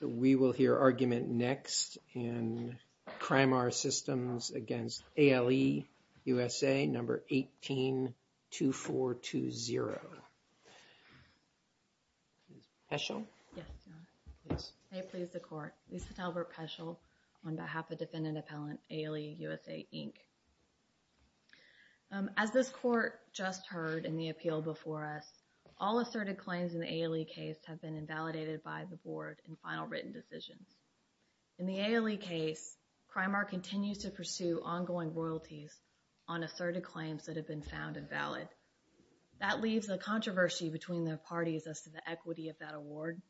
So, we will hear argument next in CRIMAR systems against ALE, USAID, and then we will hear 182420. Peschel? Yes, Your Honor. May it please the court, Elisabeth Albert Peschel on behalf of defendant appellant ALE, USAID, Inc. As this court just heard in the appeal before us, all asserted claims in the ALE case have been invalidated by the Board in final written decisions. In the ALE case, CRIMAR continues to pursue ongoing royalties on asserted claims that have been found invalid. That leaves a controversy between the parties as to the equity of that award.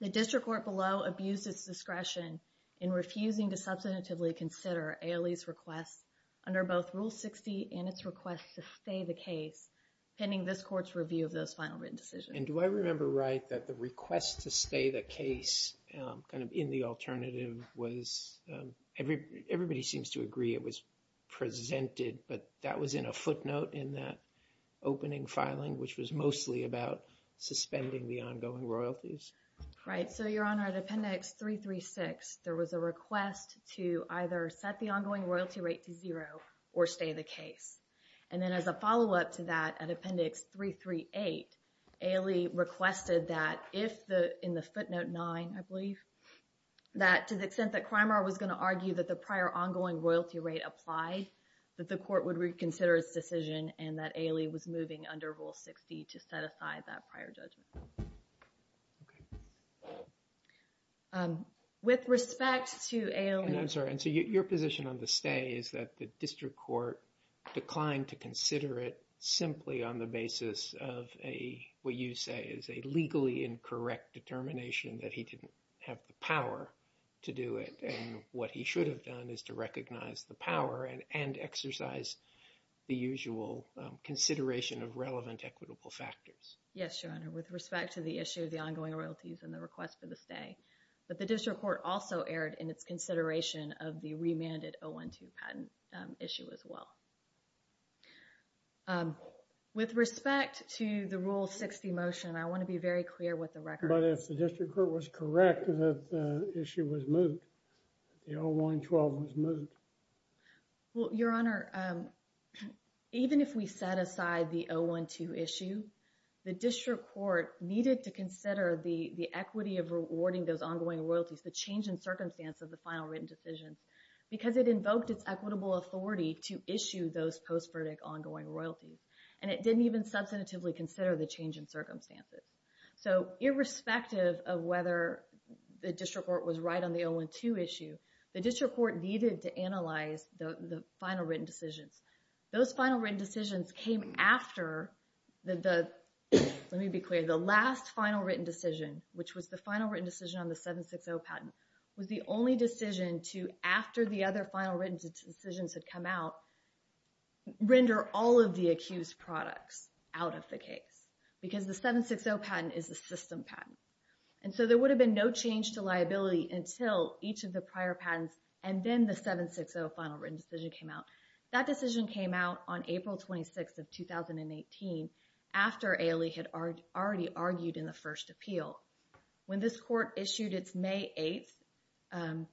The district court below abused its discretion in refusing to substantively consider ALE's request under both Rule 60 and its request to stay the case pending this court's review of those final written decisions. And do I remember right that the request to stay the case kind of in the alternative was everybody seems to agree it was presented, but that was in a footnote in that opening filing which was mostly about suspending the ongoing royalties? Right. So, Your Honor, at Appendix 336, there was a request to either set the ongoing royalty rate to zero or stay the case. And then as a follow-up to that, at Appendix 338, ALE requested that if the, in the footnote 9, I believe, that to the extent that CRIMAR was going to argue that the prior ongoing royalty rate applied, that the court would reconsider its decision and that ALE was moving under Rule 60 to set aside that prior judgment. With respect to ALE... And I'm sorry, and so your position on the stay is that the district court declined to he didn't have the power to do it. And what he should have done is to recognize the power and exercise the usual consideration of relevant equitable factors. Yes, Your Honor, with respect to the issue of the ongoing royalties and the request for the stay. But the district court also erred in its consideration of the remanded 012 patent issue as well. With respect to the Rule 60 motion, I want to be very clear with the record. But if the district court was correct that the issue was moved, the 012 was moved. Well, Your Honor, even if we set aside the 012 issue, the district court needed to consider the equity of rewarding those ongoing royalties, the change in circumstance of the final written decisions, because it invoked its equitable authority to issue those post-verdict ongoing royalties. And it didn't even substantively consider the change in circumstances. So irrespective of whether the district court was right on the 012 issue, the district court needed to analyze the final written decisions. Those final written decisions came after the... Let me be clear, the last final written decision, which was the final written decision on the 760 patent, was the only decision to, after the other final written decisions had come out, render all of the accused products out of the case. Because the 760 patent is a system patent. And so there would have been no change to liability until each of the prior patents and then the 760 final written decision came out. That decision came out on April 26th of 2018, after Ailey had already argued in the first appeal. When this court issued its May 8th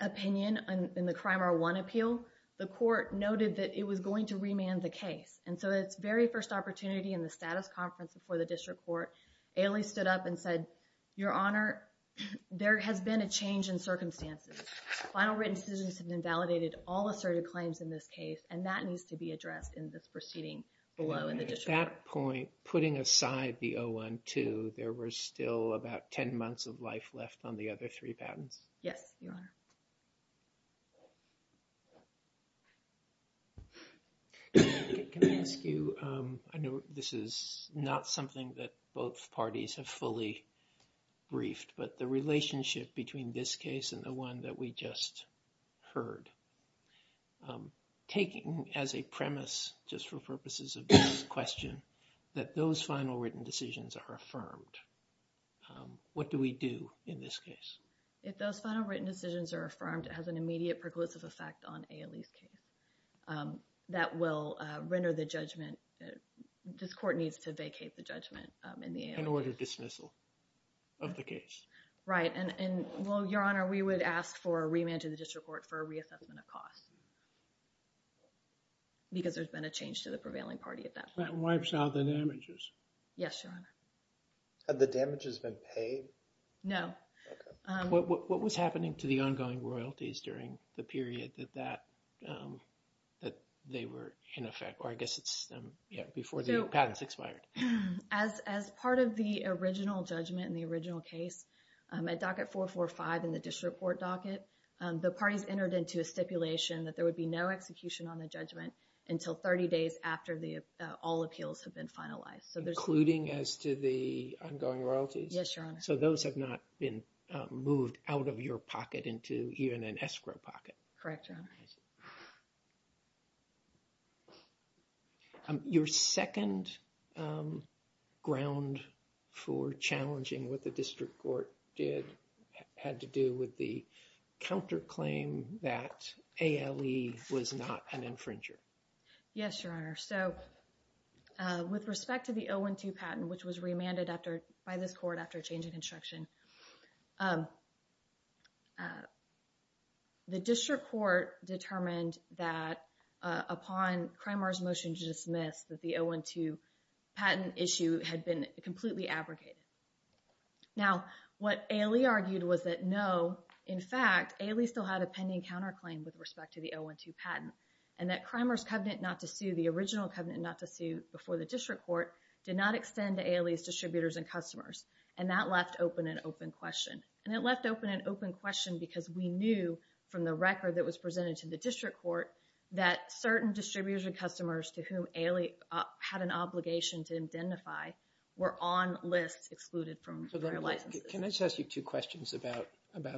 opinion in the Crime R1 appeal, the court noted that it was going to remand the case. And so its very first opportunity in the status conference before the district court, Ailey stood up and said, Your Honor, there has been a change in circumstances. Final written decisions have invalidated all asserted claims in this case, and that needs to be addressed in this proceeding below in the district court. At that point, putting aside the 012, there were still about 10 months of life left on the other three patents. Yes, Your Honor. Can I ask you, I know this is not something that both parties have fully briefed, but the relationship between this case and the one that we just heard. Taking as a premise, just for purposes of this question, that those final written decisions are affirmed, what do we do in this case? If those final written decisions are affirmed, it has an immediate preclusive effect on Ailey's case. That will render the judgment, this court needs to vacate the judgment in the Ailey case. An order of dismissal of the case. Right, and well, Your Honor, we would ask for a remand to the district court for a reassessment of costs. Because there's been a prevailing party at that point. That wipes out the damages. Yes, Your Honor. Have the damages been paid? No. What was happening to the ongoing royalties during the period that that, that they were in effect? Or I guess it's, yeah, before the patents expired. As part of the original judgment in the original case, at docket 445 in the district court docket, the parties entered into a stipulation that there would be no execution on the judgment until 30 days after the all appeals have been finalized. So there's. Including as to the ongoing royalties? Yes, Your Honor. So those have not been moved out of your pocket into even an escrow pocket? Correct, Your Honor. Your second ground for challenging what the district court did had to do with the counterclaim that ALE was not an infringer. Yes, Your Honor. So with respect to the 012 patent, which was remanded after by this court after a change in construction. The district court determined that upon Cramer's motion to dismiss that the 012 patent issue had been completely abrogated. Now what ALE argued was that no, in fact, ALE still had a pending counterclaim with respect to the 012 patent and that Cramer's covenant not to sue, the original covenant not to sue before the district court, did not extend to ALE's distributors and customers. And that left open an open question. And it left open an open question because we knew from the record that was presented to the district court that certain distributors and customers to whom ALE had an obligation to identify were on lists excluded from their licenses. Can I just ask you two questions about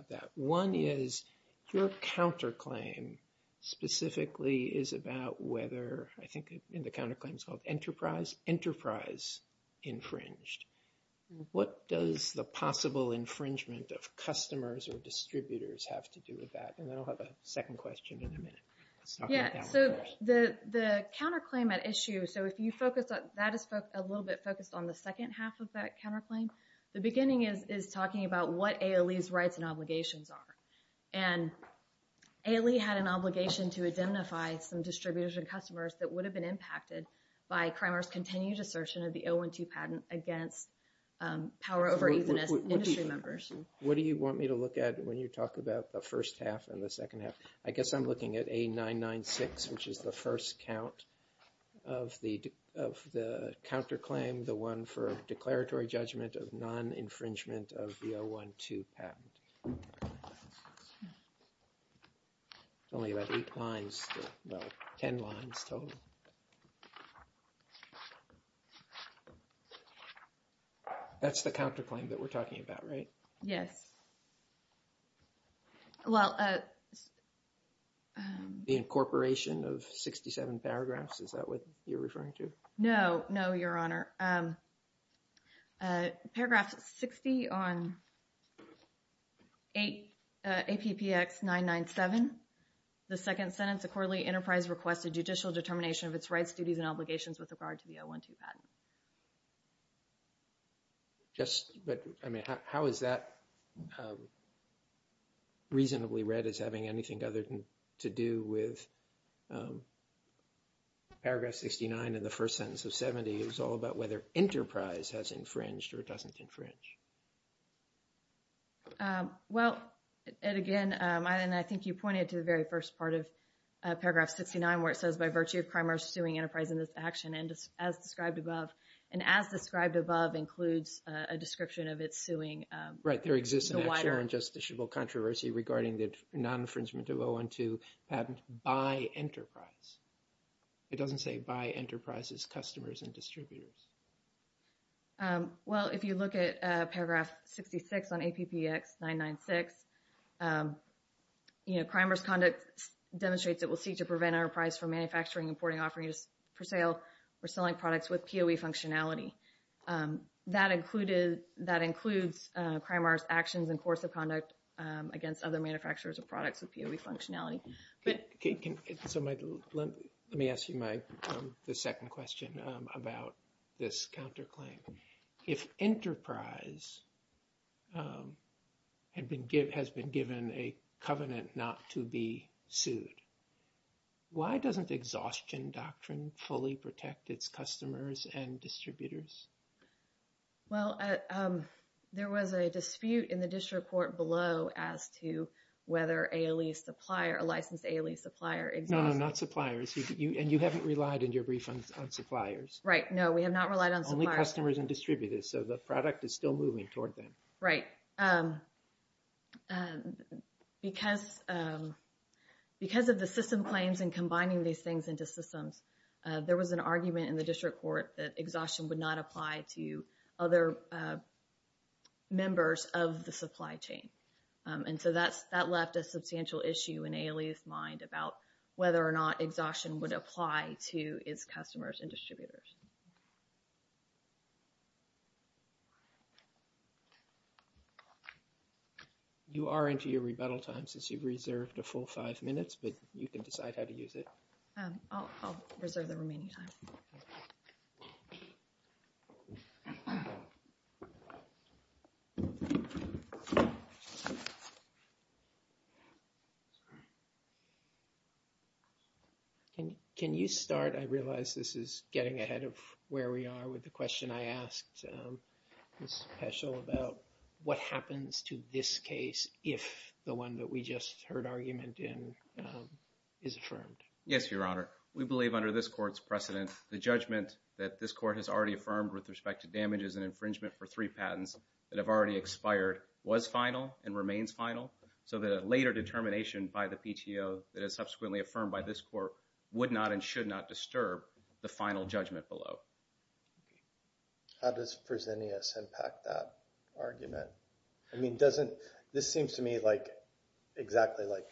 that? One is your counterclaim specifically is about whether, I think in the counterclaim it's called enterprise, enterprise infringed. What does the possible infringement of customers or distributors have to do with that? And then I'll have a second question in a minute. Yeah, so the counterclaim at issue, so if you focus on, that is a little bit focused on the second half of that counterclaim. The beginning is talking about what ALE's rights and obligations are. And ALE had an obligation to identify some distributors and customers that would have been impacted by Cramer's continued assertion of the 012 patent against power over ethanol industry members. What do you want me to look at when you talk about the first half and the second half? I guess I'm looking at A996, which is the first count of the counterclaim, the one for a declaratory judgment of non-infringement of the 012 patent. Only about eight lines, well, 10 lines total. That's the counterclaim that we're talking about, right? Yes. Yes. Well, the incorporation of 67 paragraphs, is that what you're referring to? No, no, Your Honor. Paragraph 60 on APPX 997, the second sentence, a quarterly enterprise requested judicial determination of its rights, duties, and obligations with regard to the 012 patent. Just, but, I mean, how is that reasonably read as having anything other to do with paragraph 69 and the first sentence of 70? It was all about whether enterprise has infringed or doesn't infringe. Well, and again, and I think you pointed to the very first part of paragraph 69, where it says, by virtue of Cramer suing enterprise in this action, as described above, and as described above includes a description of its suing. Right. There exists an actual and justiciable controversy regarding the non-infringement of 012 patent by enterprise. It doesn't say by enterprise's customers and distributors. Well, if you look at paragraph 66 on APPX 996, you know, Cramer's conduct demonstrates it will seek to prevent enterprise from manufacturing, importing, offering for sale, or selling products with POE functionality. That included, that includes Cramer's actions and course of conduct against other manufacturers of products with POE functionality. But can, so my, let me ask you my, the second question about this counterclaim. If enterprise has been given a covenant not to be sued, why doesn't exhaustion doctrine fully protect its customers and distributors? Well, there was a dispute in the district court below as to whether ALE supplier, a licensed ALE supplier. No, no, not suppliers. And you haven't relied in your brief on suppliers. Right. No, we have not relied on suppliers. Only customers and distributors. So the product is still moving toward them. Right. Because, because of the system claims and combining these things into systems, there was an argument in the district court that exhaustion would not apply to other members of the supply chain. And so that's, that left a substantial issue in ALE's mind about whether or not exhaustion would apply to its customers and distributors. Okay. You are into your rebuttal time since you've reserved a full five minutes, but you can decide how to use it. I'll reserve the remaining time. Okay. Can you start, I realize this is getting ahead of where we are with the question I asked Ms. Peschel about what happens to this case if the one that we just heard argument in is affirmed? Yes, Your Honor. We believe under this court's precedent, the judgment that this court has already affirmed with respect to damages and infringement for three patents that have already expired was final and remains final. So the later determination by the PTO that is subsequently affirmed by this court would not and should not disturb the final judgment below. How does Fresenius impact that argument? I mean, doesn't, this seems to me like exactly like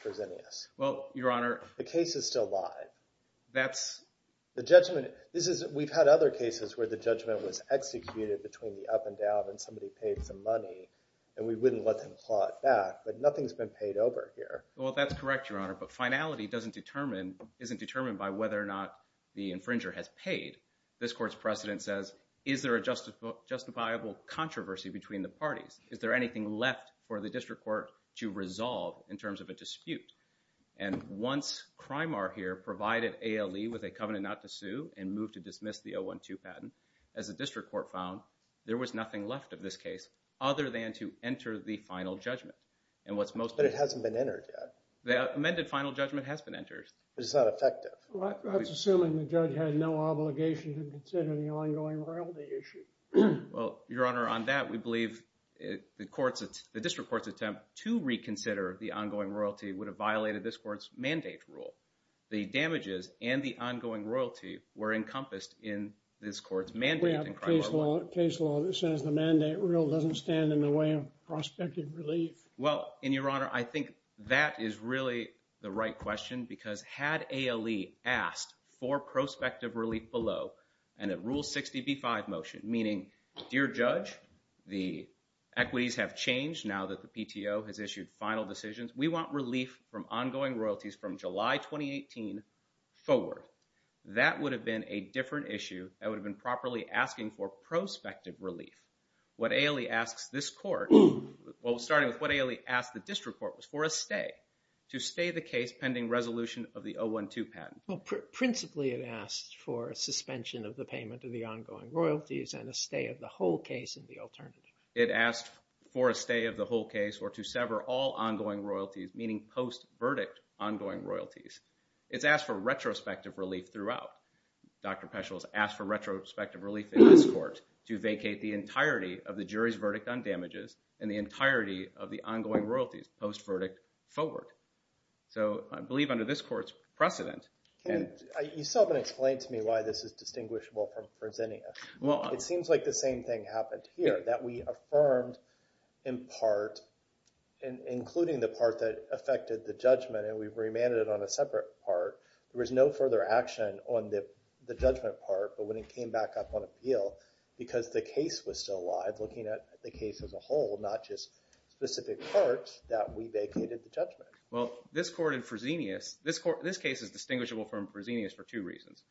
the case is still live. That's the judgment. This is, we've had other cases where the judgment was executed between the up and down and somebody paid some money and we wouldn't let them claw it back, but nothing's been paid over here. Well, that's correct, Your Honor. But finality doesn't determine, isn't determined by whether or not the infringer has paid. This court's precedent says, is there a justifiable controversy between the parties? Is there anything left for the district court to resolve in terms of a dispute? And once CRIMAR here provided ALE with a covenant not to sue and moved to dismiss the 012 patent, as the district court found, there was nothing left of this case other than to enter the final judgment. And what's most... But it hasn't been entered yet. The amended final judgment has been entered. But it's not effective. Well, that's assuming the judge had no obligation to consider the ongoing royalty issue. Well, Your Honor, on that, we believe the court's, the district court's attempt to reconsider the ongoing royalty would have violated this court's mandate rule. The damages and the ongoing royalty were encompassed in this court's mandate in CRIMAR. We have a case law that says the mandate rule doesn't stand in the way of prospective relief. Well, and Your Honor, I think that is really the right question because had ALE asked for prospective relief below and a Rule 60b-5 motion, meaning, Dear Judge, the equities have changed now that the PTO has issued final decisions. We want relief from ongoing royalties from July 2018 forward. That would have been a different issue that would have been properly asking for prospective relief. What ALE asks this court... Well, starting with what ALE asked the court... Well, principally, it asked for a suspension of the payment of the ongoing royalties and a stay of the whole case in the alternative. It asked for a stay of the whole case or to sever all ongoing royalties, meaning post-verdict ongoing royalties. It's asked for retrospective relief throughout. Dr. Peschel has asked for retrospective relief in this court to vacate the entirety of the jury's verdict on damages and the entirety of the ongoing royalties post-verdict forward. So I believe under this court's precedent... You still haven't explained to me why this is distinguishable from Fresenius. It seems like the same thing happened here, that we affirmed in part, including the part that affected the judgment, and we remanded it on a separate part. There was no further action on the judgment part, but when it came back up on appeal, because the case was still alive, looking at the case as a whole, not just specific parts that we vacated the judgment. Well, this court in Fresenius... This case is distinguishable from Fresenius for two reasons.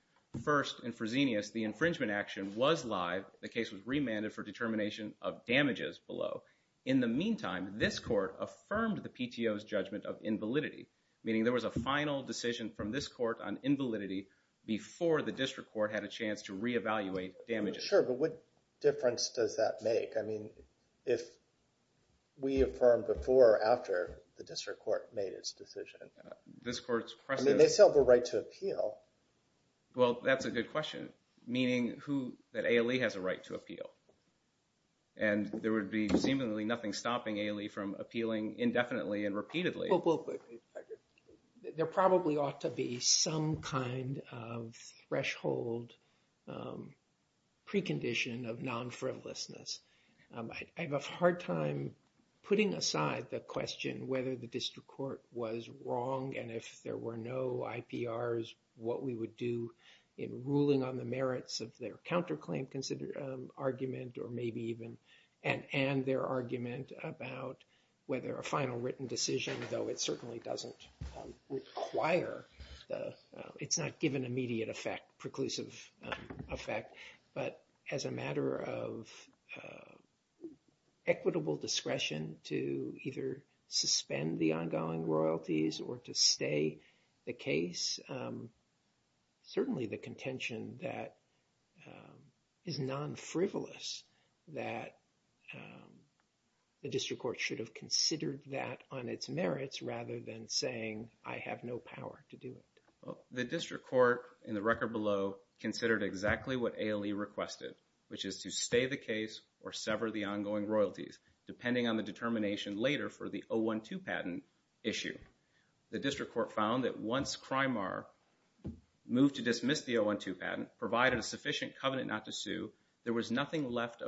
First, in Fresenius, the infringement action was live. The case was remanded for determination of damages below. In the meantime, this court affirmed the PTO's judgment of invalidity, meaning there was a final decision from this court on invalidity before the district court had a chance to re-evaluate damages. Sure, but what difference does that make? I mean, if we affirmed before or after the district court made its decision. I mean, they still have a right to appeal. Well, that's a good question, meaning that ALE has a right to appeal, and there would be seemingly nothing stopping ALE from appealing indefinitely and repeatedly. There probably ought to be some kind of threshold precondition of non-frivolousness. I have a hard time putting aside the question whether the district court was wrong, and if there were no IPRs, what we would do in ruling on the merits of their counterclaim argument, or maybe even an and their argument about whether a final written decision, though it certainly doesn't require, it's not given immediate effect, preclusive effect, but as a matter of equitable discretion to either suspend the ongoing royalties or to stay the case, certainly the contention that is non-frivolous that the district court should have considered that on its merits rather than saying I have no power to do it. The district court, in the record below, considered exactly what ALE requested, which is to stay the case or sever the ongoing royalties, depending on the determination later for the 012 patent issue. The district court found that once CRIMAR moved to dismiss the 012 patent, provided a sufficient covenant not to sue, there was nothing left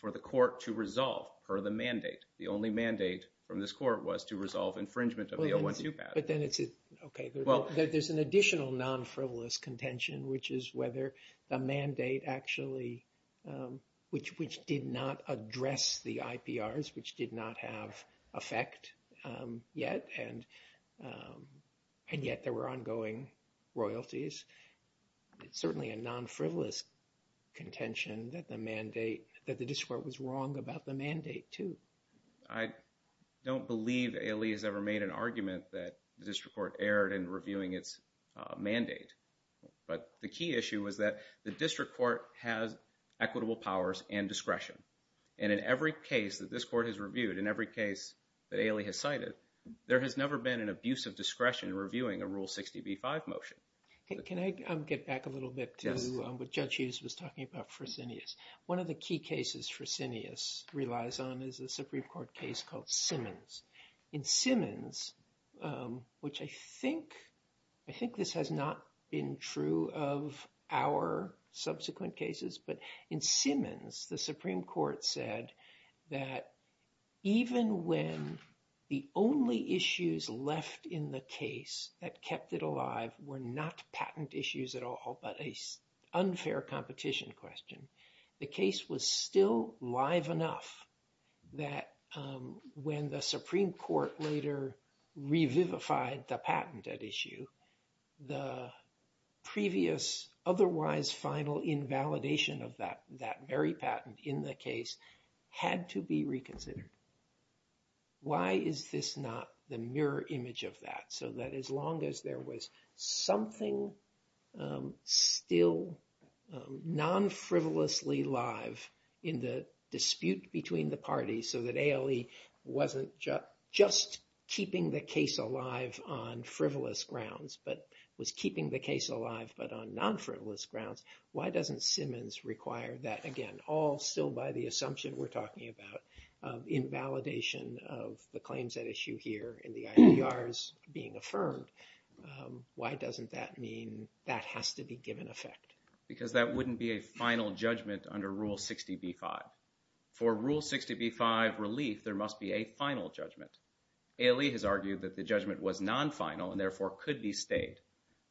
for the court to resolve per the mandate. The only mandate from this court was to resolve infringement of the 012 patent. But then it's, okay, there's an additional non-frivolous contention, which is whether the mandate actually, which did not address the IPRs, which did not have effect yet, and yet there were ongoing royalties. It's certainly a non-frivolous contention that the mandate, that the district court was wrong about the mandate too. I don't believe ALE has ever made an argument that the district court erred in reviewing its mandate. But the key issue was that the district court has equitable powers and discretion. And in every case that this court has reviewed, in every case that ALE has cited, there has never been an abuse of discretion reviewing a Rule 60b-5 motion. Can I get back a little bit to what Judge Hughes was talking about for Zinneas? One of the key cases for Zinneas relies on is a Supreme Court case called Simmons. In Simmons, which I think this has not been true of our subsequent cases, but in Simmons, the Supreme Court said that even when the only issues left in the case that kept it alive were not patent issues at all, but an unfair competition question, the case was still live enough that when the Supreme Court later revivified the patent at issue, the previous otherwise final invalidation of that very patent in the case had to be reconsidered. Why is this not the mirror image of that? So that as long as there was something still non-frivolously live in the dispute between the parties so that ALE wasn't just keeping the case alive on frivolous grounds, but was keeping the case alive, but on non-frivolous grounds, why doesn't Simmons require that again? All still by the assumption we're talking about of invalidation of the claims at issue here and the IPRs being affirmed. Why doesn't that mean that has to be given effect? Because that wouldn't be a final judgment under Rule 60b-5. For Rule 60b-5 relief, there must be a final judgment. ALE has argued that the judgment was non-final and therefore could be stayed.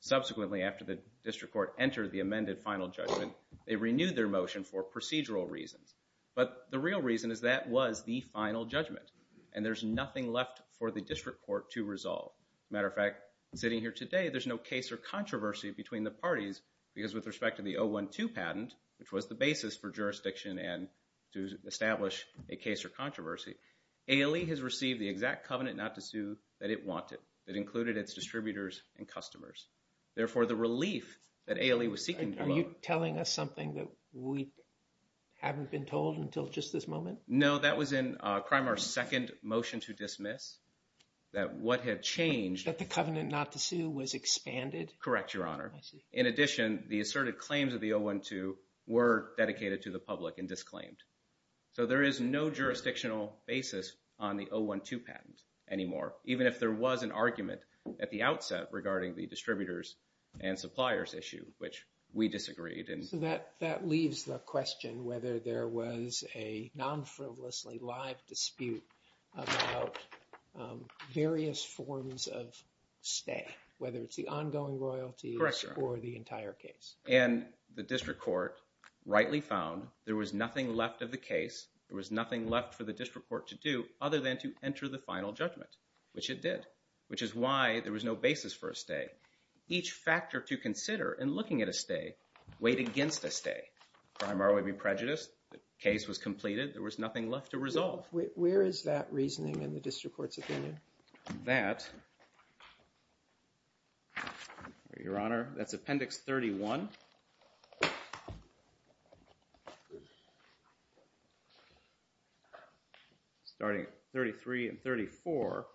Subsequently, after the district court entered the amended final judgment, they renewed their motion for procedural reasons. But the real reason is that was the final judgment and there's nothing left for the district court to resolve. Matter of fact, sitting here today, there's no case or controversy between the parties because with respect to the 012 patent, which was the basis for jurisdiction and to establish a case or controversy, ALE has received the exact covenant not to sue that it wanted. It included its distributors and customers. Therefore, the relief that ALE was seeking... Are you telling us something that we haven't been told until just this moment? No, that was in CRIMAR's second motion to dismiss, that what had changed... That the covenant not to sue was expanded? Correct, Your Honor. I see. In addition, the asserted claims of the 012 were dedicated to the public and disclaimed. So there is no jurisdictional basis on the 012 patent anymore, even if there was an argument at the outset regarding the distributors and suppliers issue, which we disagreed. That leaves the question whether there was a non-frivolously live dispute about various forms of stay, whether it's the ongoing royalties or the entire case. And the district court rightly found there was nothing left of the case. There was nothing left for the district court to do other than to enter the final judgment, which it did, which is why there was no basis for a stay. Each factor to consider in looking at a stay weighed against a stay. CRIMAR would be prejudiced. The case was completed. There was nothing left to resolve. Where is that reasoning in the district court's opinion? That... Your Honor, that's Appendix 31. Starting at 33 and 34,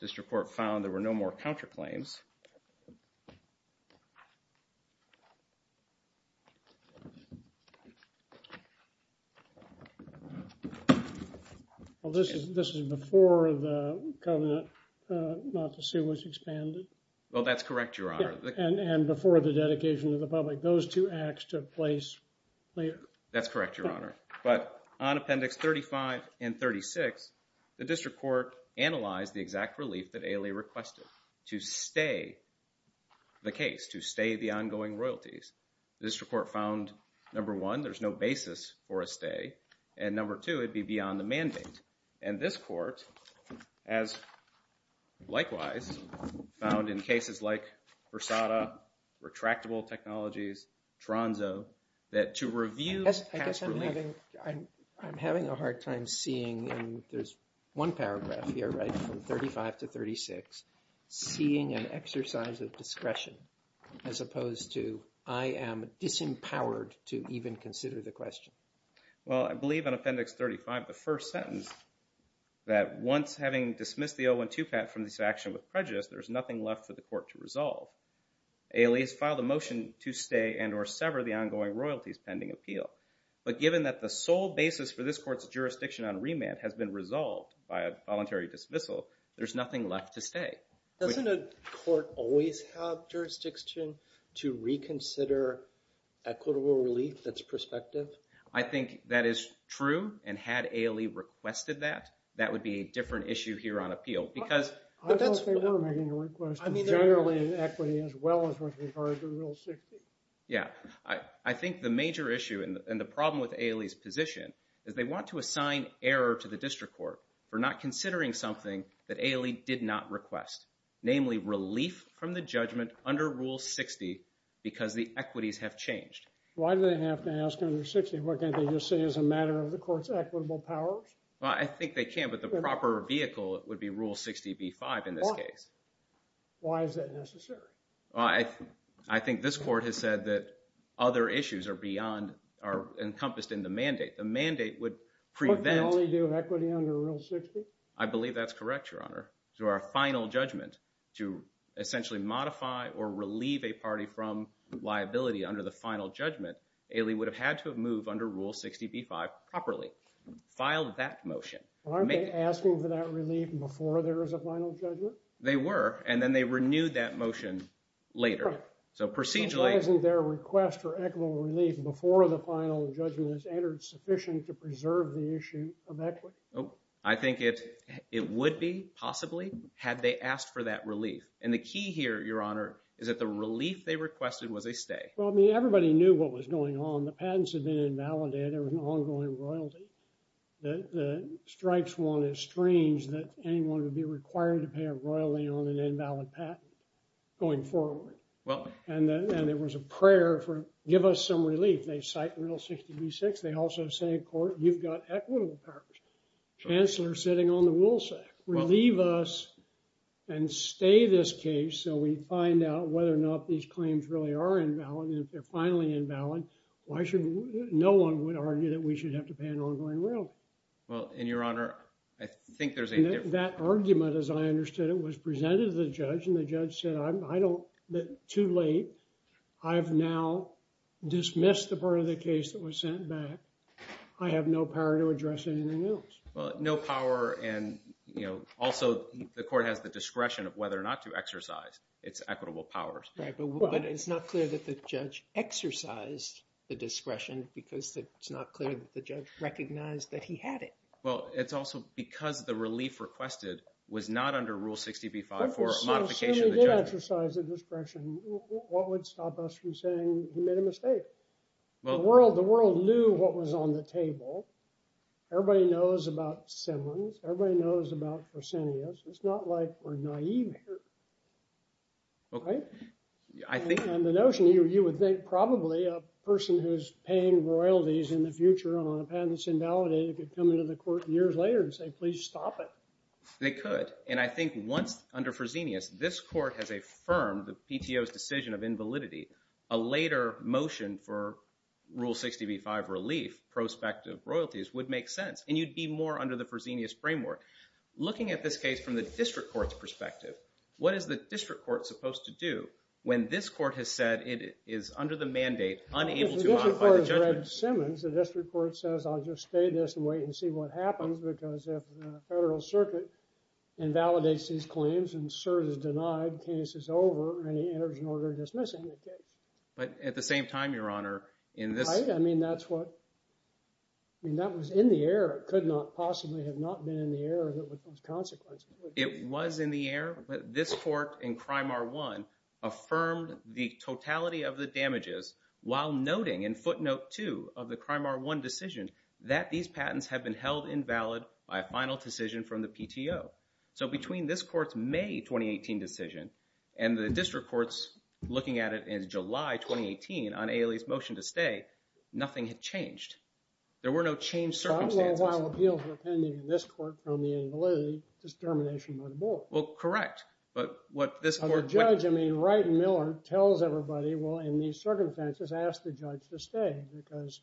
district court found there were no more counterclaims. Well, this is before the covenant not to see what's expanded. Well, that's correct, Your Honor. And before the dedication to the public, those two acts took place later. That's correct, Your Honor. But on Appendix 35 and 36, the district court analyzed the exact relief that Ailey requested to stay the case, to stay the ongoing royalties. The district court found, number one, there's no basis for a stay, and number two, it'd be beyond the mandate. And this court has, likewise, found in cases like Versada, Retractable Technologies, Tronzo, that to review... I'm having a hard time seeing, and there's one paragraph here, right, from 35 to 36, seeing an exercise of discretion as opposed to I am disempowered to even consider the question. Well, I believe on Appendix 35, the first sentence, that once having dismissed the 012 patent from this action with prejudice, there's nothing left for the court to resolve. Ailey has filed a motion to stay and or sever the ongoing royalties pending appeal. But given that the sole basis for this court's jurisdiction on remand has been resolved by a voluntary dismissal, there's nothing left to stay. Doesn't a court always have jurisdiction to reconsider equitable relief that's prospective? I think that is true, and had Ailey requested that, that would be a different issue here on appeal because... I thought they were making a request of generally equity as well as with regard to Rule 60. Yeah. I think the major issue and the problem with Ailey's position is they want to assign error to the district court for not considering something that Ailey did not request, namely, relief from the judgment under Rule 60 because the equities have changed. Why do they have to ask under 60? What can't they just say as a matter of the court's equitable powers? Well, I think they can, but the proper vehicle would be Rule 60b-5 in this case. Why is that necessary? I think this court has said that other issues are encompassed in the mandate. The mandate would prevent... But they only do equity under Rule 60? I believe that's correct, Your Honor. To our final judgment, to essentially modify or relieve a party from liability under the final judgment, Ailey would have had to have moved under Rule 60b-5 properly, filed that motion. Aren't they asking for that relief before there is a final judgment? They were, and then they renewed that motion later. So procedurally... So why isn't their request for equitable relief before the final judgment is entered sufficient to preserve the issue of equity? I think it would be, possibly, had they asked for that relief. And the key here, Your Honor, is that the relief they requested was a stay. Well, I mean, everybody knew what was going on. The patents had been invalidated. There was an ongoing royalty. The Stripes one, it's strange that anyone would be required to pay a royalty on an invalid patent going forward. And there was a prayer for, give us some relief. They cite Rule 60b-6. They also say, of course, you've got equitable powers. Chancellor's sitting on the wool sack. Relieve us and stay this case so we find out whether or not these claims really are invalid. And if they're finally invalid, why should... No one would argue that we should have to pay an ongoing royalty. Well, and Your Honor, I think there's a... That argument, as I understood it, was presented to the judge. And the judge said, I don't... Too late. I've now dismissed the part of the case that was sent back. I have no power to address anything else. Well, no power and, you know, also, the court has the discretion of whether or not to exercise its equitable powers. Right, but it's not clear that the judge exercised the discretion because it's not clear that the judge recognized that he had it. Well, it's also because the relief requested was not under Rule 60b-5 for modification. If he did exercise the discretion, what would stop us from saying he made a mistake? Well, the world knew what was on the table. Everybody knows about Simmons. Everybody knows about Fresenius. It's not like we're naive here. Right? I think... And the notion you would think probably a person who's paying royalties in the future on a patent that's invalidated could come into the court years later and say, please stop it. They could. And I think once under Fresenius, this court has affirmed the PTO's decision of invalidity, a later motion for Rule 60b-5 relief, prospective royalties, would make sense. And you'd be more under the Fresenius framework. Looking at this case from the district court's perspective, what is the district court supposed to do when this court has said it is under the mandate, unable to modify the judgment? Well, if the district court has read Simmons, the district court says, I'll just stay this and wait and see what happens. Because if the federal circuit invalidates these claims and serves as denied, case is over and he enters an order dismissing the case. But at the same time, Your Honor, in this... I mean, that's what... I mean, that was in the air. It could not possibly have not been in the air that those consequences would be. It was in the air, but this court in Crime R1 affirmed the totality of the damages while noting in footnote two of the Crime R1 decision that these patents have been held invalid by a final decision from the PTO. So between this court's May 2018 decision and the district court's looking at it in July 2018 on Ailey's motion to stay, nothing had changed. There were no changed circumstances. So I don't know why appeals are pending in this court from the invalidity to termination by the board. Well, correct. But what this court... But the judge, I mean, Wright and Miller tells everybody, well, in these circumstances, ask the judge to stay because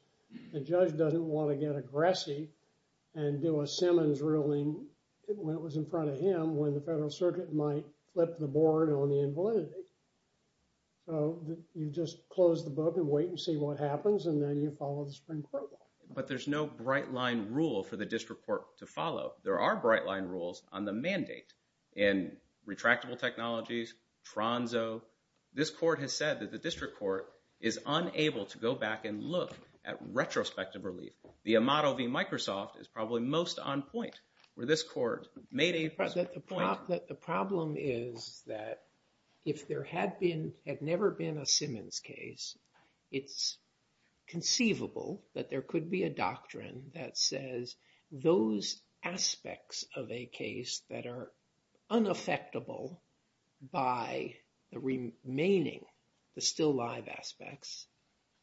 the judge doesn't want to get aggressive and do a Simmons ruling when it was in front of him, when the federal circuit might flip the board on the invalidity. So you just close the book and wait and see what happens, and then you follow the Supreme Court law. But there's no bright line rule for the district court to follow. There are bright line rules on the mandate in retractable technologies, Tronzo. This court has said that the district court is unable to go back and look at retrospective relief. The Amato v. Microsoft is probably most on point where this court made a... But the problem is that if there had never been a Simmons case, it's conceivable that there could be a doctrine that says those aspects of a case that are unaffectable by the remaining, the still live aspects,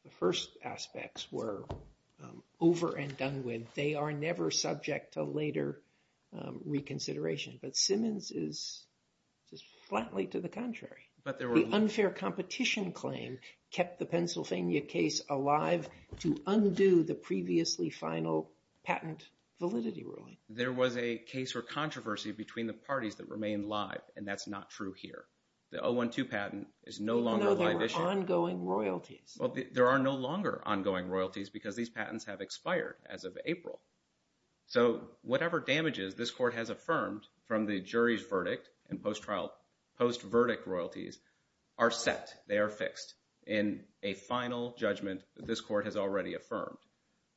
the first aspects were over and done with. They are never subject to later reconsideration. But Simmons is just flatly to the contrary. But the unfair competition claim kept the Pennsylvania case alive to undo the previously final patent validity ruling. There was a case or controversy between the parties that remained live, and that's not true here. The 012 patent is no longer a live issue. No, they were ongoing royalties. Well, there are no longer ongoing royalties because these patents have expired as of April. So whatever damages this court has affirmed from the jury's verdict and post-verdict royalties are set. They are fixed in a final judgment that this court has already affirmed.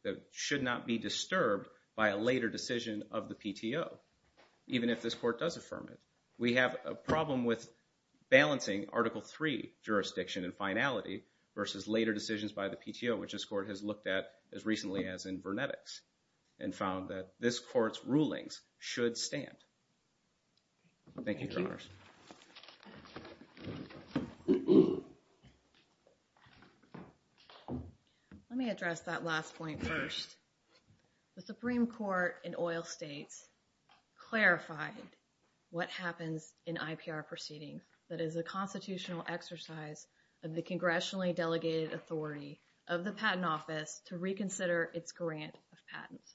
That should not be disturbed by a later decision of the PTO, even if this court does affirm it. We have a problem with balancing Article III jurisdiction and finality versus later decisions by the PTO, which this court has looked at as recently as in Vernetics and found that this court's rulings should stand. Thank you, Your Honors. Let me address that last point first. The Supreme Court in oil states clarified what happens in IPR proceedings. That is a constitutional exercise of the congressionally delegated authority of the Patent Office to reconsider its grant of patents.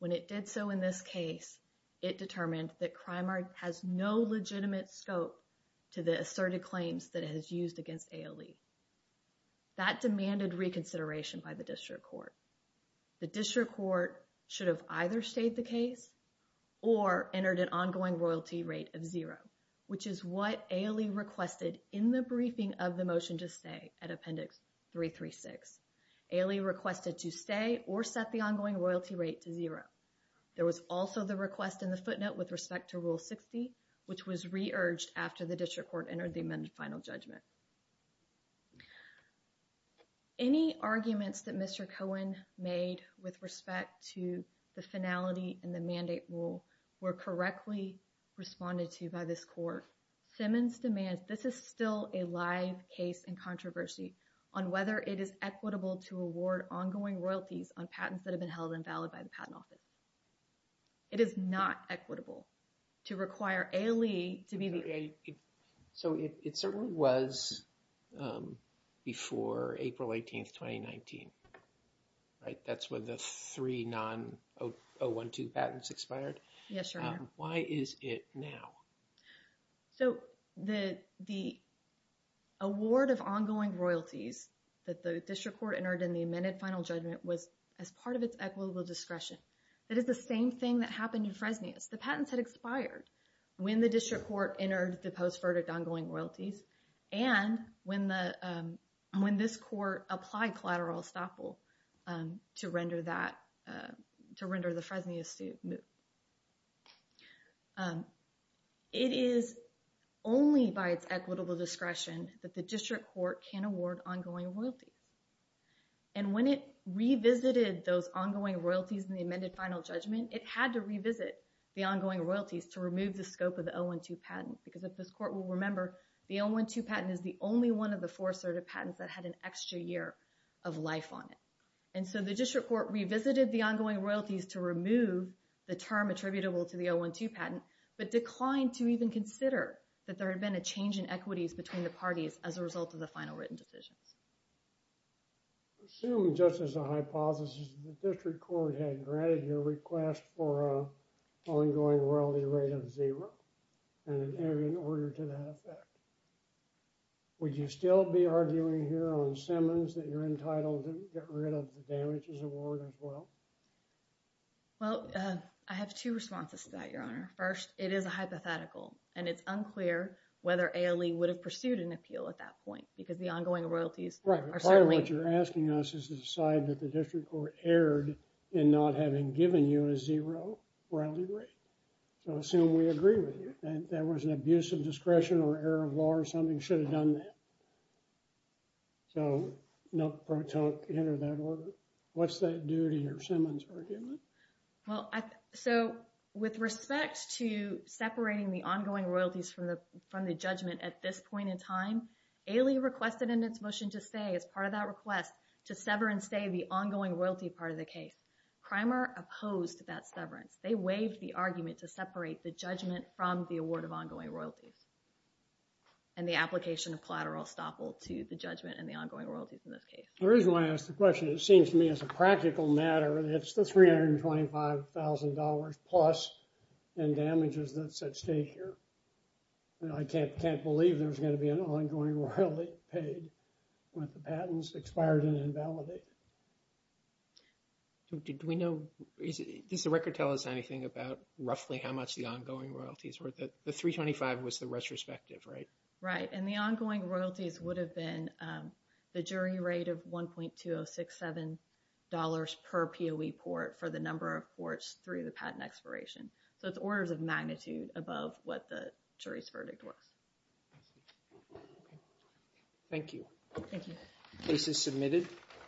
When it did so in this case, it determined that Krimer has no legitimate scope to the asserted claims that it has used against ALE. That demanded reconsideration by the district court. The district court should have either stayed the case or entered an ongoing royalty rate of zero, which is what ALE requested in the briefing of the motion to stay at Appendix 336. ALE requested to stay or set the ongoing royalty rate to zero. There was also the request in the footnote with respect to Rule 60, which was re-urged after the district court entered the final judgment. Any arguments that Mr. Cohen made with respect to the finality in the mandate rule were correctly responded to by this court. Simmons demands this is still a live case and controversy on whether it is equitable to award ongoing royalties on patents that have been held invalid by the Patent Office. It is not equitable to require ALE to be the... So it certainly was before April 18th, 2019, right? That's when the three non-012 patents expired. Yes, Your Honor. Why is it now? So the award of ongoing royalties that the district court entered in the amended final judgment was as part of its equitable discretion. It is the same thing that happened in Fresnias. The patents had expired when the district court entered the post-verdict ongoing royalties and when this court applied collateral estoppel to render the Fresnias move. It is only by its equitable discretion that the district court can award ongoing royalties. And when it revisited those ongoing royalties in the amended final judgment, it had to revisit the ongoing royalties to remove the scope of the 012 patent. Because if this court will remember, the 012 patent is the only one of the four assertive patents that had an extra year of life on it. And so the district court revisited the ongoing royalties to remove the term attributable to the 012 patent, but declined to even consider that there had been a change in equities between the parties as a result of the final written decisions. Assume, just as a hypothesis, the district court had granted your request for an ongoing royalty rate of zero and in order to that effect. Would you still be arguing here on Simmons that you're entitled to get rid of the damages award as well? Well, I have two responses to that, Your Honor. First, it is a hypothetical, and it's unclear whether ALE would have pursued an appeal at that point because the ongoing royalties are certainly... What you're asking us is to decide that the district court erred in not having given you a zero royalty rate. So, assume we agree with you and there was an abuse of discretion or error of law or something, should have done that. So, no, don't enter that order. What's that do to your Simmons argument? Well, so with respect to separating the ongoing royalties from the judgment at this point in time, ALE requested in its motion to stay as part of that request to sever and stay the ongoing royalty part of the case. Crimer opposed that severance. They waived the argument to separate the judgment from the award of ongoing royalties and the application of collateral estoppel to the judgment and the ongoing royalties in this case. The reason why I ask the question, it seems to me as a practical matter, it's the $325,000 plus in damages that's at stake here. I can't believe there's going to be an ongoing royalty paid with the patents expired and invalidated. Does the record tell us anything about roughly how much the ongoing royalties were? The $325,000 was the retrospective, right? Right, and the ongoing royalties would have been the jury rate of $1.2067 per POE port for the number of ports through the patent expiration. So, it's orders of magnitude above what the jury's verdict was. Thank you. Thank you. Case is submitted.